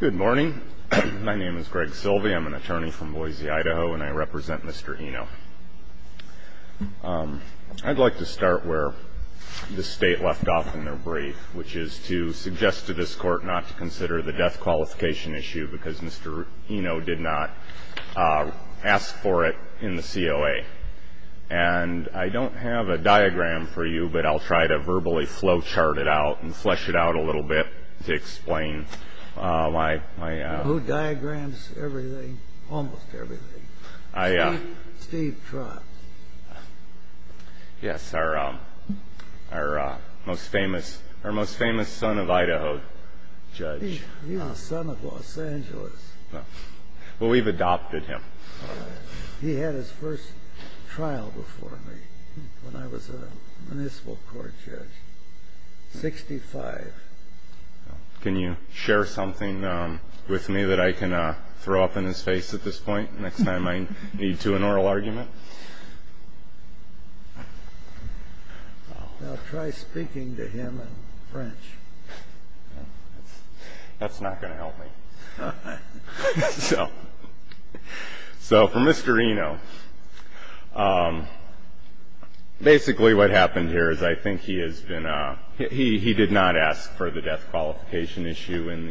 Good morning. My name is Greg Silvey. I'm an attorney from Boise, Idaho, and I represent Mr. Enno. I'd like to start where the State left off in their brief, which is to suggest to this Court not to consider the death qualification issue because Mr. Enno did not ask for it in the COA. And I don't have a diagram for you, but I'll try to verbally flowchart it out and flesh it out a little bit to explain my... Who diagrams everything, almost everything? Steve Trott. Yes, our most famous son of Idaho judge. He's the son of Los Angeles. Well, we've adopted him. He had his first trial before me when I was a municipal court judge, 65. Can you share something with me that I can throw up in his face at this point next time I need to in an oral argument? I'll try speaking to him in French. That's not going to help me. So for Mr. Enno, basically what happened here is I think he has been a – he did not ask for the death qualification issue in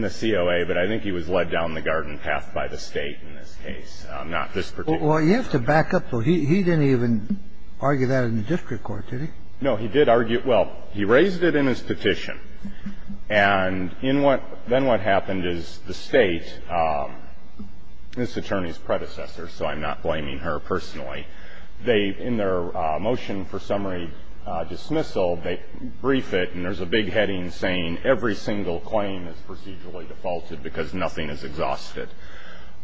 the COA, but I think he was led down the garden path by the State in this case, not this particular case. Well, you have to back up. He didn't even argue that in the district court, did he? No, he did argue – well, he raised it in his petition. And in what – then what happened is the State, this attorney's predecessor, so I'm not blaming her personally, they – in their motion for summary dismissal, they brief it and there's a big heading saying every single claim is procedurally defaulted because nothing is exhausted.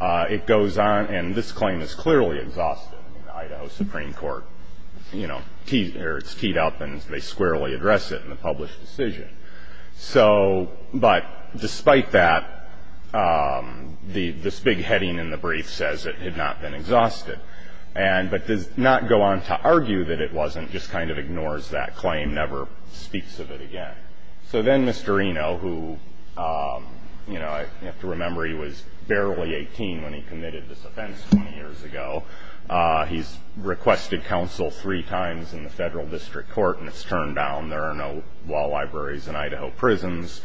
It goes on, and this claim is clearly exhausted in the Idaho Supreme Court. You know, it's keyed up and they squarely address it in the published decision. So – but despite that, this big heading in the brief says it had not been exhausted. And – but does not go on to argue that it wasn't, just kind of ignores that claim, never speaks of it again. So then Mr. Enno, who, you know, I have to remember he was barely 18 when he committed this offense 20 years ago, he's requested counsel three times in the federal district court and it's turned down. There are no law libraries in Idaho prisons.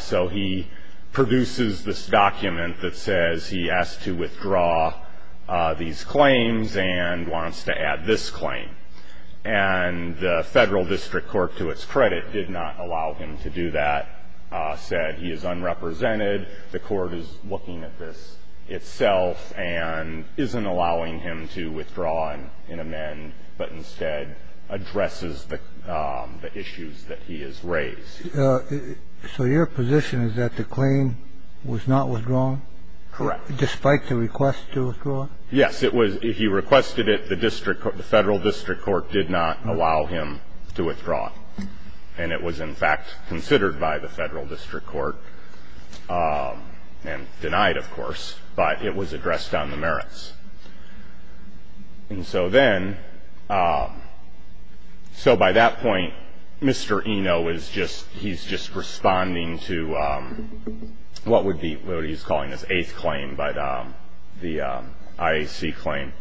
So he produces this document that says he has to withdraw these claims and wants to add this claim. And the federal district court, to its credit, did not allow him to do that. And the federal district court, as I said, he is unrepresented. The court is looking at this itself and isn't allowing him to withdraw an amend, but instead addresses the issues that he has raised. So your position is that the claim was not withdrawn? Correct. Despite the request to withdraw it? Yes, it was – he requested it. The district – the federal district court did not allow him to withdraw it. And it was, in fact, considered by the federal district court and denied, of course, but it was addressed on the merits. And so then – so by that point, Mr. Eno is just – he's just responding to what would be – what he's calling his eighth claim, the IAC claim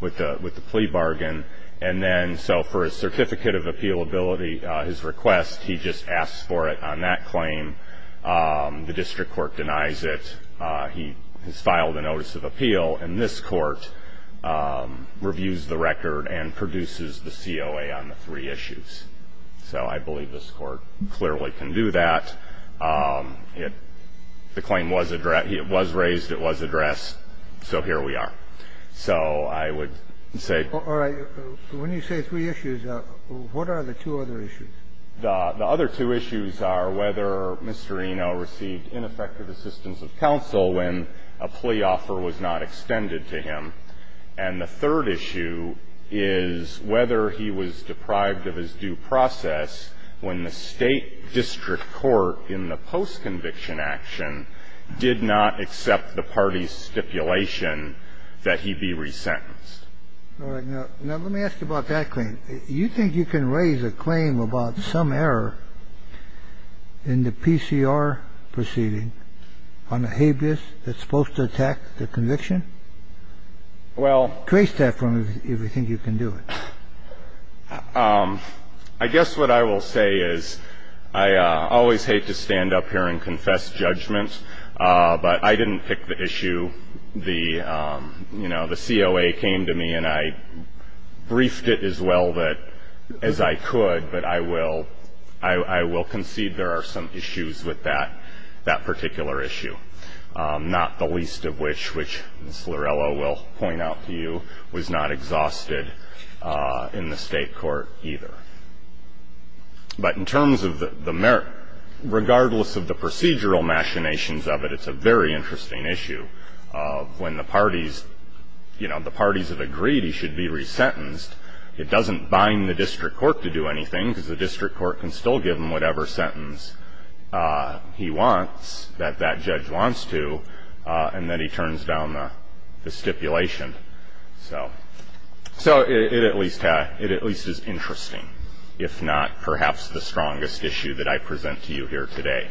with the plea bargain. And then so for his certificate of appealability, his request, he just asks for it on that claim. The district court denies it. He has filed a notice of appeal, and this Court reviews the record and produces the COA on the three issues. So I believe this Court clearly can do that. It – the claim was addressed – it was raised, it was addressed, so here we are. So I would say – All right. When you say three issues, what are the two other issues? The other two issues are whether Mr. Eno received ineffective assistance of counsel when a plea offer was not extended to him. And the third issue is whether he was deprived of his due process when the state district court in the post-conviction action did not accept the party's stipulation that he be resentenced. All right. Now, let me ask you about that claim. You think you can raise a claim about some error in the PCR proceeding on a habeas that's supposed to attack the conviction? Well – Trace that for me, if you think you can do it. I guess what I will say is I always hate to stand up here and confess judgments, but I didn't pick the issue. The – you know, the COA came to me and I briefed it as well as I could, but I will concede there are some issues with that particular issue, not the least of which, which Ms. Lorello will point out to you, was not exhausted in the state court either. But in terms of the – regardless of the procedural machinations of it, it's a very interesting issue of when the parties – you know, the parties have agreed he should be resentenced, it doesn't bind the district court to do anything because the district court can still give him whatever sentence he wants, that that judge wants to, and then he turns down the stipulation. So it at least is interesting, if not perhaps the strongest issue that I present to you here today,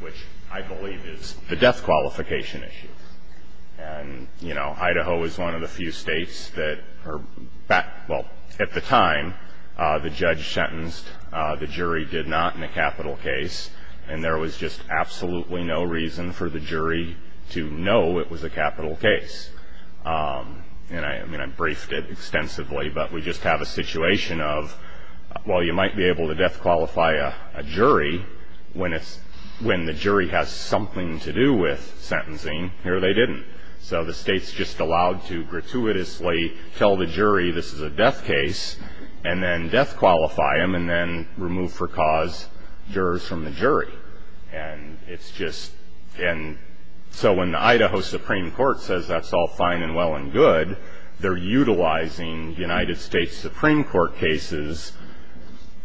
which I believe is the death qualification issue. And, you know, Idaho is one of the few states that are – well, at the time, the judge sentenced, the jury did not in a capital case, and there was just absolutely no reason for the jury to know it was a capital case. And, I mean, I briefed it extensively, but we just have a situation of, well, you might be able to death qualify a jury when the jury has something to do with sentencing. Here they didn't. So the state's just allowed to gratuitously tell the jury this is a death case and then death qualify them and then remove for cause jurors from the jury. And it's just – and so when the Idaho Supreme Court says that's all fine and well and good, they're utilizing United States Supreme Court cases,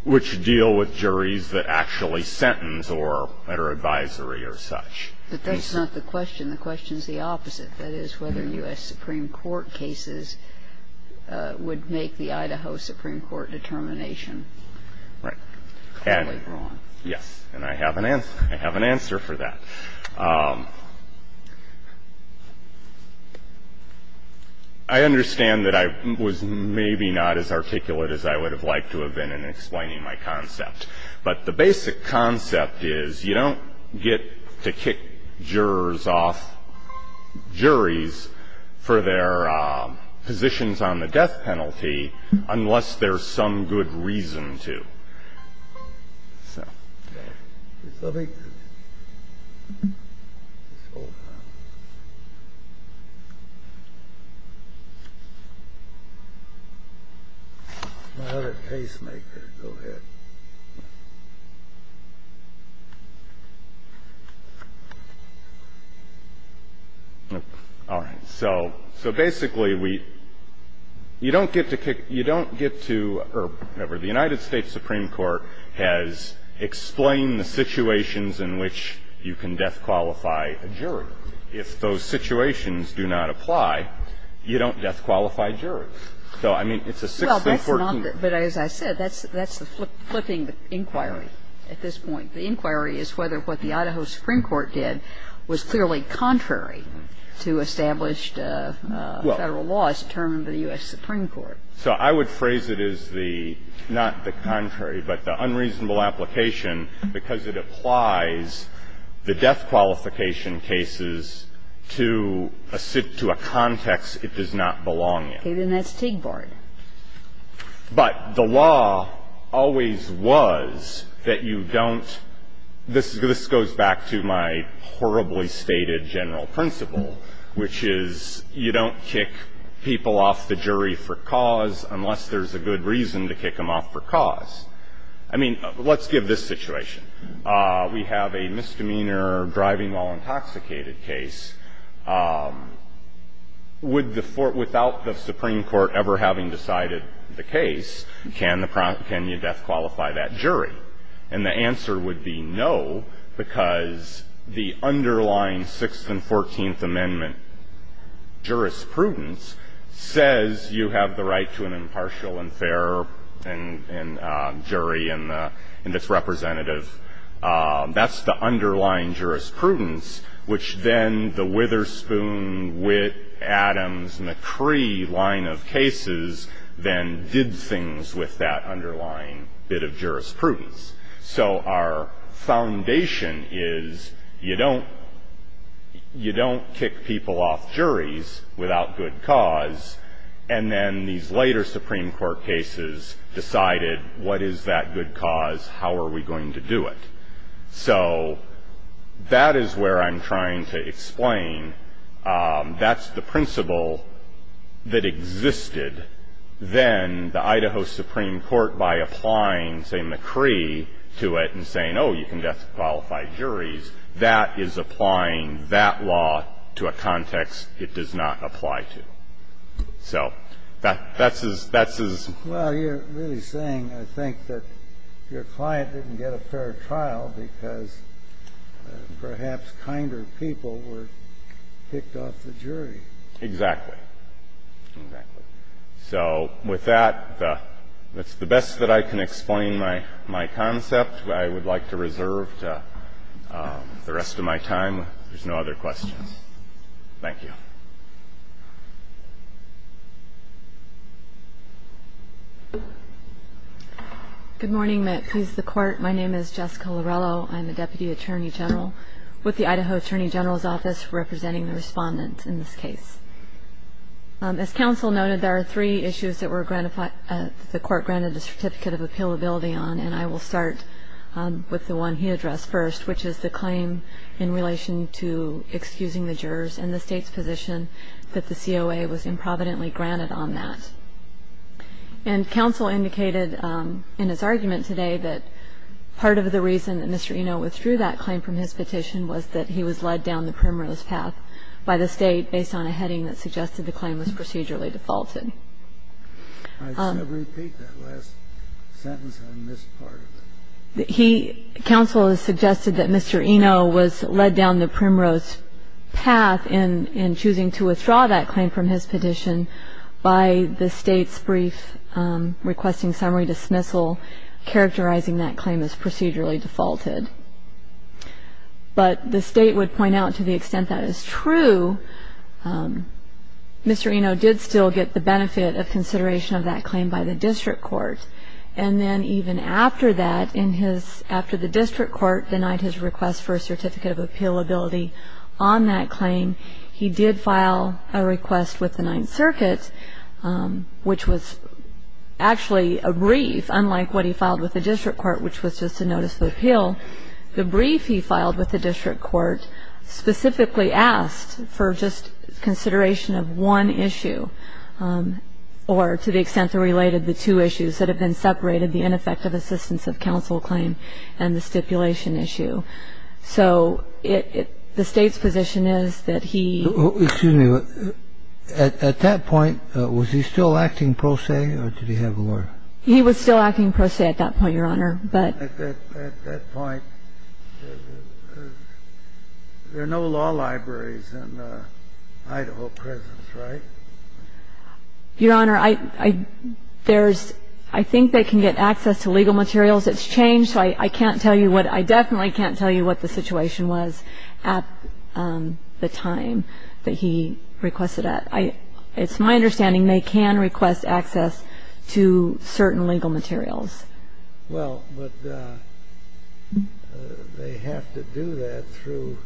which deal with juries that actually sentence or are under advisory or such. But that's not the question. The question is the opposite. That is whether U.S. Supreme Court cases would make the Idaho Supreme Court determination. Right. Only wrong. Yes. And I have an answer for that. I understand that I was maybe not as articulate as I would have liked to have been in explaining my concept. But the basic concept is you don't get to kick jurors off juries for their positions on the death penalty unless there's some good reason to. So basically, we – you don't get to kick – you don't get to – or whatever. The United States Supreme Court has explained the situations in which you can death qualify a jury. If those situations do not apply, you don't death qualify jurors. So, I mean, it's a six-to-14. But as I said, that's the flipping inquiry at this point. The inquiry is whether what the Idaho Supreme Court did was clearly contrary to established Federal laws determined by the U.S. Supreme Court. So I would phrase it as the – not the contrary, but the unreasonable application, because it applies the death qualification cases to a – to a context it does not belong in. Okay. Then that's TIG board. But the law always was that you don't – this goes back to my horribly stated general principle, which is you don't kick people off the jury for cause unless there's a good reason to kick them off for cause. I mean, let's give this situation. We have a misdemeanor driving while intoxicated case. Would the – without the Supreme Court ever having decided the case, can the – can you death qualify that jury? And the answer would be no, because the underlying Sixth and Fourteenth Amendment jurisprudence says you have the right to an impartial and fair jury and its representative. That's the underlying jurisprudence, which then the Witherspoon, Witt, Adams, McCree line of cases then did things with that underlying bit of jurisprudence. So our foundation is you don't – you don't kick people off juries without good cause, and then these later Supreme Court cases decided what is that good cause, how are we going to do it. So that is where I'm trying to explain. That's the principle that existed then the Idaho Supreme Court by applying, say, McCree to it and saying, oh, you can death qualify juries. That is applying that law to a context it does not apply to. So that's as – that's as – Well, you're really saying, I think, that your client didn't get a fair trial because perhaps kinder people were picked off the jury. Exactly. Exactly. So with that, that's the best that I can explain my – my concept. I would like to reserve the rest of my time. If there's no other questions. Thank you. Good morning. May it please the Court. My name is Jessica Laurello. I'm a Deputy Attorney General with the Idaho Attorney General's Office representing the respondents in this case. As counsel noted, there are three issues that were granted – that the Court granted the Certificate of Appealability on, and I will start with the one he addressed first, which is the claim in relation to excusing the jurors and the State's position that the COA was improvidently granted on that. And counsel indicated in his argument today that part of the reason that Mr. Eno withdrew that claim from his petition was that he was led down the primrose path by the State based on a heading that suggested the claim was procedurally defaulted. I said repeat that last sentence. I missed part of it. He – counsel has suggested that Mr. Eno was led down the primrose path in choosing to withdraw that claim from his petition by the State's brief requesting summary dismissal, characterizing that claim as procedurally defaulted. But the State would point out to the extent that is true, Mr. Eno did still get the benefit of consideration of that claim by the District Court. And then even after that, in his – after the District Court denied his request for a Certificate of Appealability on that claim, he did file a request with the Ninth Circuit, which was actually a brief, unlike what he filed with the District Court, which was just a notice of appeal. The brief he filed with the District Court specifically asked for just consideration of one issue or to the extent that related the two issues that have been separated, the ineffective assistance of counsel claim and the stipulation issue. So the State's position is that he – Excuse me. At that point, was he still acting pro se or did he have a lawyer? He was still acting pro se at that point, Your Honor, but – At that point, there are no law libraries in Idaho presence, right? Your Honor, I – there's – I think they can get access to legal materials. It's changed, so I can't tell you what – I definitely can't tell you what the situation was at the time that he requested that. It's my understanding they can request access to certain legal materials. Well, but they have to do that through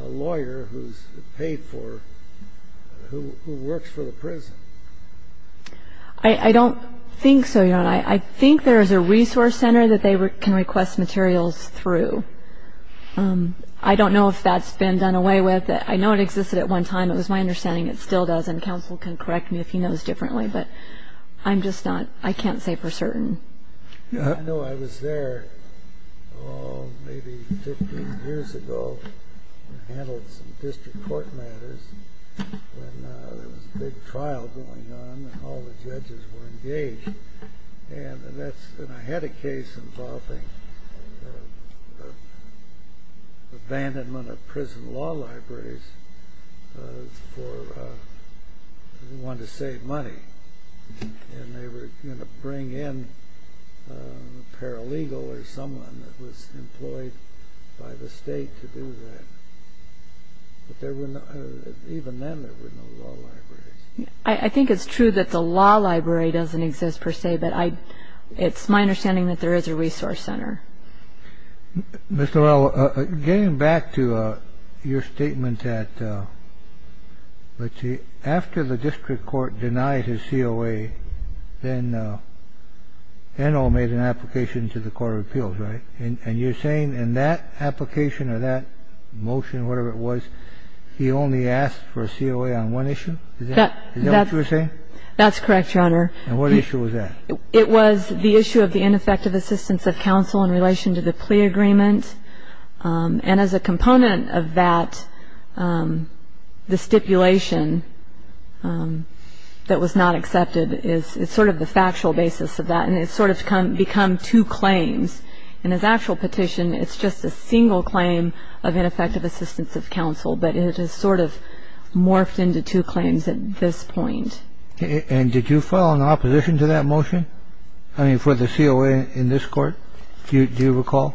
a lawyer who's paid for – who works for the prison. I don't think so, Your Honor. I think there is a resource center that they can request materials through. I don't know if that's been done away with. I know it existed at one time. It was my understanding it still does, and counsel can correct me if he knows differently. But I'm just not – I can't say for certain. I know I was there, oh, maybe 15 years ago. I handled some district court matters when there was a big trial going on and all the judges were engaged. And that's – and I had a case involving abandonment of prison law libraries for one to save money. And they were going to bring in a paralegal or someone that was employed by the state to do that. But there were no – even then there were no law libraries. I think it's true that the law library doesn't exist per se, but I – it's my understanding that there is a resource center. Mr. Lowell, getting back to your statement that, let's see, after the district court denied his COA, then Enno made an application to the Court of Appeals, right? And you're saying in that application or that motion, whatever it was, he only asked for a COA on one issue? Is that what you're saying? That's correct, Your Honor. And what issue was that? It was the issue of the ineffective assistance of counsel in relation to the plea agreement. And as a component of that, the stipulation that was not accepted is sort of the factual basis of that, and it's sort of become two claims. In his actual petition, it's just a single claim of ineffective assistance of counsel, but it has sort of morphed into two claims at this point. And did you file an opposition to that motion? I mean, for the COA in this court, do you recall?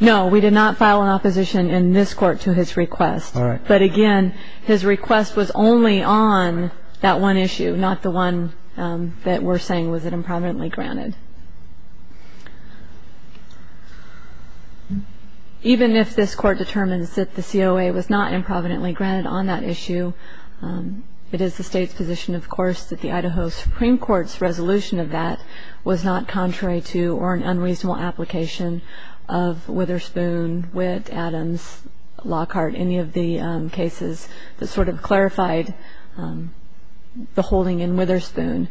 No, we did not file an opposition in this court to his request. But, again, his request was only on that one issue, not the one that we're saying was impermanently granted. Even if this court determines that the COA was not impermanently granted on that issue, it is the State's position, of course, that the Idaho Supreme Court's resolution of that was not contrary to or an unreasonable application of Witherspoon, Witt, Adams, Lockhart, any of the cases that sort of clarified the holding in Witherspoon.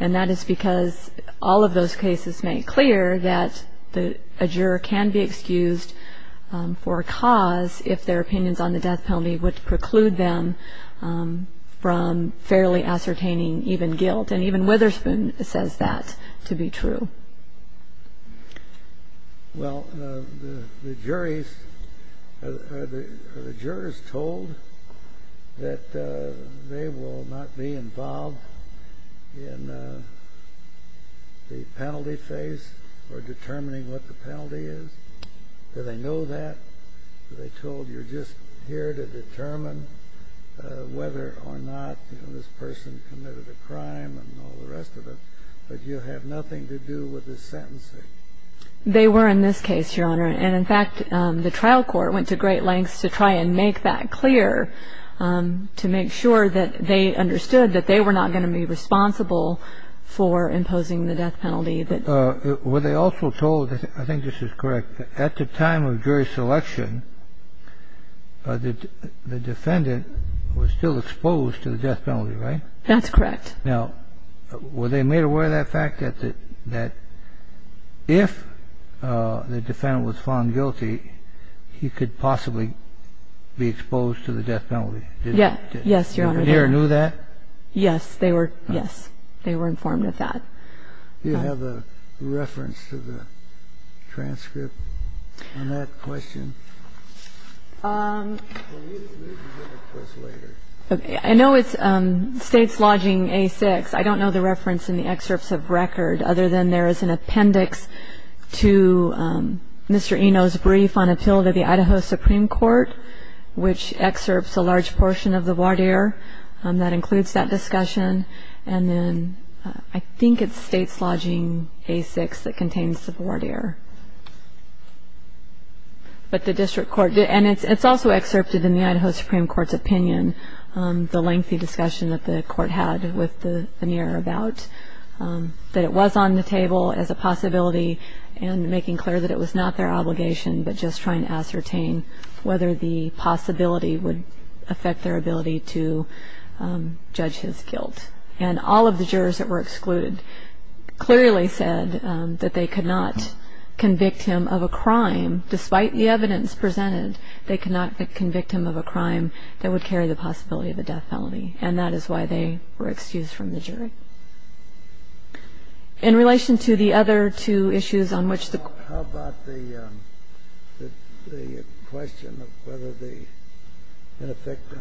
And that is because all of those cases make clear that a juror can be excused for a cause if their opinions on the death penalty would preclude them from fairly ascertaining even guilt. And even Witherspoon says that to be true. Well, the jurors told that they will not be involved in the penalty phase or determining what the penalty is. Do they know that? Are they told you're just here to determine whether or not this person committed a crime and all the rest of it? But you have nothing to do with the sentencing. They were in this case, Your Honor. And, in fact, the trial court went to great lengths to try and make that clear, to make sure that they understood that they were not going to be responsible for imposing the death penalty. Were they also told, I think this is correct, at the time of jury selection, the defendant was still exposed to the death penalty, right? That's correct. Now, were they made aware of that fact, that if the defendant was found guilty, he could possibly be exposed to the death penalty? Yes. Yes, Your Honor. The juror knew that? Yes. They were, yes. They were informed of that. Do you have a reference to the transcript on that question? I know it's states lodging A-6. I don't know the reference in the excerpts of record, other than there is an appendix to Mr. Eno's brief on appeal to the Idaho Supreme Court, which excerpts a large portion of the voir dire that includes that discussion. And then I think it's states lodging A-6 that contains the voir dire. But the district court did. And it's also excerpted in the Idaho Supreme Court's opinion, the lengthy discussion that the court had with the veneer about that it was on the table as a possibility and making clear that it was not their obligation, but just trying to ascertain whether the possibility would affect their ability to judge his guilt. And all of the jurors that were excluded clearly said that they could not convict him of a crime. Despite the evidence presented, they could not convict him of a crime that would carry the possibility of a death felony. And that is why they were excused from the jury. In relation to the other two issues on which the court.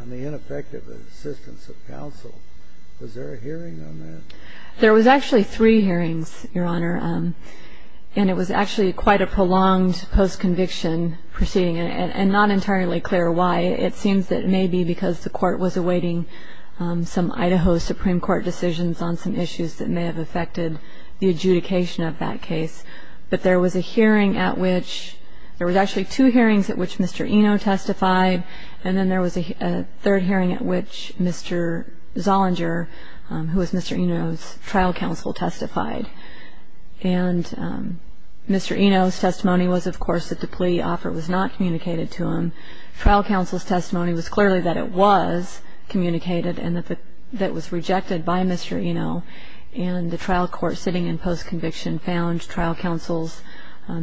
The ineffective assistance of counsel. Was there a hearing on that? There was actually three hearings, Your Honor. And it was actually quite a prolonged post-conviction proceeding and not entirely clear why. It seems that it may be because the court was awaiting some Idaho Supreme Court decisions on some issues that may have affected the adjudication of that case. But there was a hearing at which there was actually two hearings at which Mr. Eno testified. And then there was a third hearing at which Mr. Zollinger, who was Mr. Eno's trial counsel, testified. And Mr. Eno's testimony was, of course, that the plea offer was not communicated to him. Trial counsel's testimony was clearly that it was communicated and that it was rejected by Mr. Eno. And the trial court sitting in post-conviction found trial counsel's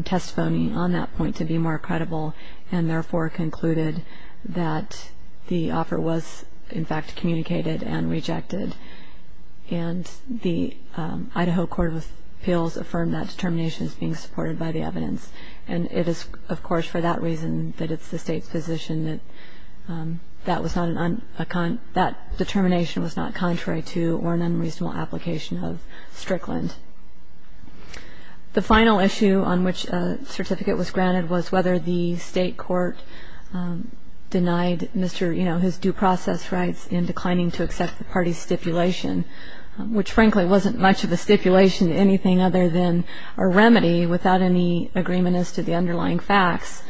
testimony on that point to be more credible and therefore concluded that the offer was, in fact, communicated and rejected. And the Idaho Court of Appeals affirmed that determination is being supported by the evidence. And it is, of course, for that reason that it's the State's position that that determination was not contrary to or an unreasonable application of Strickland. The final issue on which a certificate was granted was whether the State court denied Mr. Eno his due process rights in declining to accept the party's stipulation, which, frankly, wasn't much of a stipulation, anything other than a remedy without any agreement as to the underlying facts.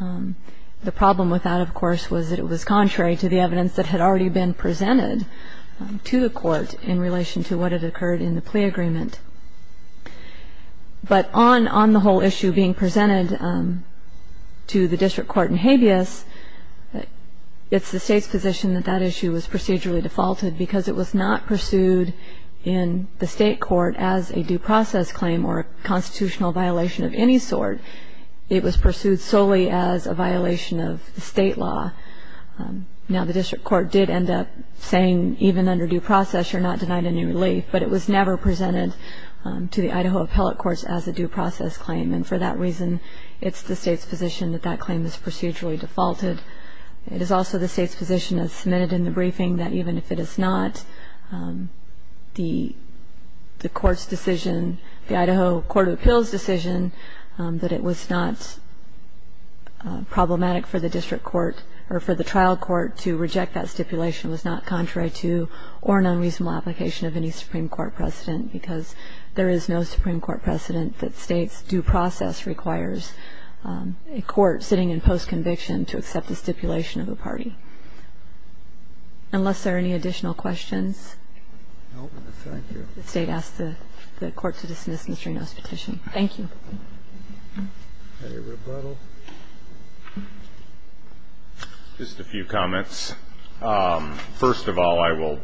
The problem with that, of course, was that it was contrary to the evidence that had already been presented to the Court in relation to what had occurred in the plea agreement. But on the whole issue being presented to the district court in habeas, it's the State's position that that issue was procedurally defaulted because it was not pursued in the State court as a due process claim or a constitutional violation of any sort. It was pursued solely as a violation of the State law. Now, the district court did end up saying, even under due process, you're not denied any relief, but it was never presented to the Idaho appellate courts as a due process claim. And for that reason, it's the State's position that that claim is procedurally defaulted. It is also the State's position as submitted in the briefing that even if it is not the court's decision, the Idaho court of appeals decision, that it was not problematic for the district court or for the trial court to reject that stipulation was not contrary to or an unreasonable application of any Supreme Court precedent because there is no Supreme Court precedent that State's due process requires a court sitting in postconviction to accept a stipulation of a party. Unless there are any additional questions. Thank you. The State asks the Court to dismiss Mr. Reno's petition. Thank you. Any rebuttal? Just a few comments. First of all, I will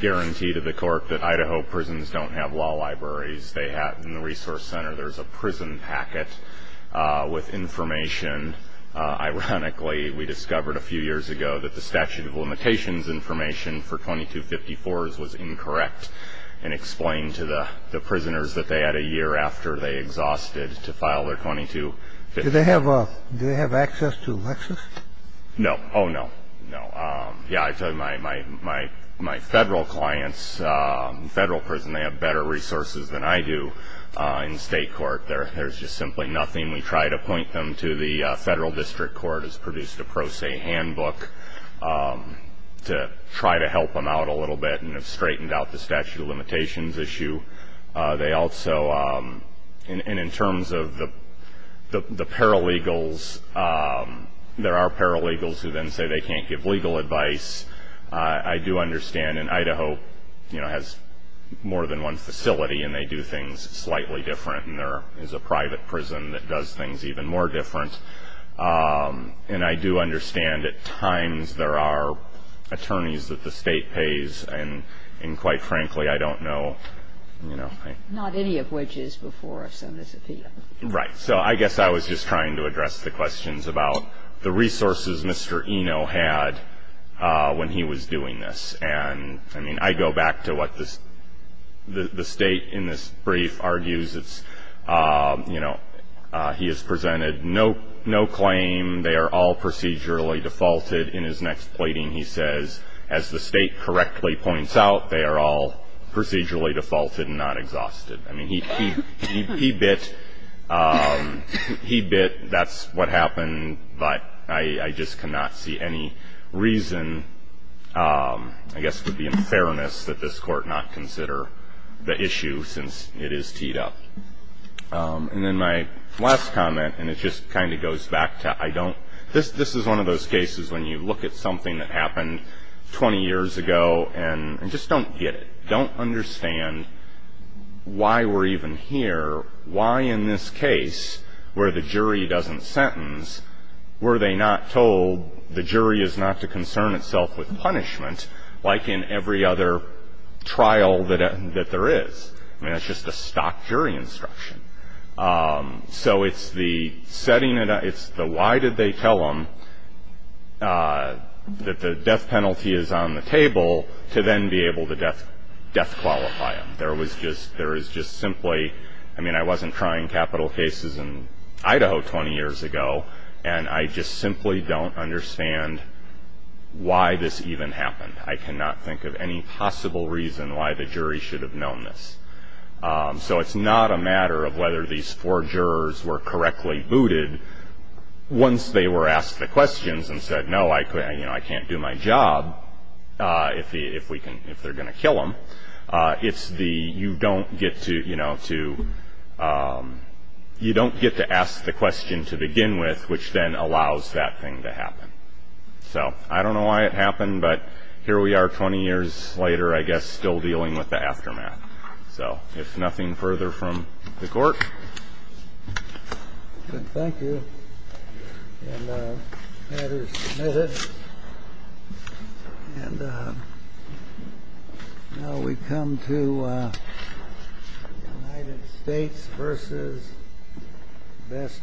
guarantee to the Court that Idaho prisons don't have law libraries. They have, in the Resource Center, there's a prison packet with information. Ironically, we discovered a few years ago that the statute of limitations information for 2254s was incorrect and explained to the prisoners that they had a year after they exhausted to file their 2254. Do they have access to Lexis? No. Oh, no. No. Yeah, I tell you, my Federal clients, Federal prison, they have better resources than I do in State court. There's just simply nothing. We try to point them to the Federal District Court has produced a pro se handbook to try to help them out a little bit and have straightened out the statute of limitations issue. They also, and in terms of the paralegals, there are paralegals who then say they can't give legal advice. I do understand, and Idaho, you know, has more than one facility and they do things slightly different and there is a private prison that does things even more different. And I do understand at times there are attorneys that the State pays and quite frankly, I don't know, you know. Not any of which is before us on this appeal. Right. So I guess I was just trying to address the questions about the resources Mr. Eno had when he was doing this. And, I mean, I go back to what the State in this brief argues. It's, you know, he has presented no claim. They are all procedurally defaulted. In his next plating he says, as the State correctly points out, they are all procedurally defaulted and not exhausted. I mean, he bit that's what happened, but I just cannot see any reason. I guess it would be in fairness that this Court not consider the issue since it is teed up. And then my last comment, and it just kind of goes back to I don't, this is one of those cases when you look at something that happened 20 years ago and just don't get it. Don't understand why we're even here. Why in this case where the jury doesn't sentence, were they not told the jury is not to concern itself with punishment, like in every other trial that there is? I mean, it's just a stock jury instruction. So it's the setting, it's the why did they tell him that the death penalty is on the table to then be able to death qualify him. There is just simply, I mean, I wasn't trying capital cases in Idaho 20 years ago, and I just simply don't understand why this even happened. I cannot think of any possible reason why the jury should have known this. So it's not a matter of whether these four jurors were correctly booted once they were asked the questions and said, no, I can't do my job if they're going to kill him. It's the you don't get to, you know, to, you don't get to ask the question to begin with, which then allows that thing to happen. So I don't know why it happened, but here we are 20 years later, I guess, still dealing with the aftermath. Thank you. Now we come to the United States versus best winner.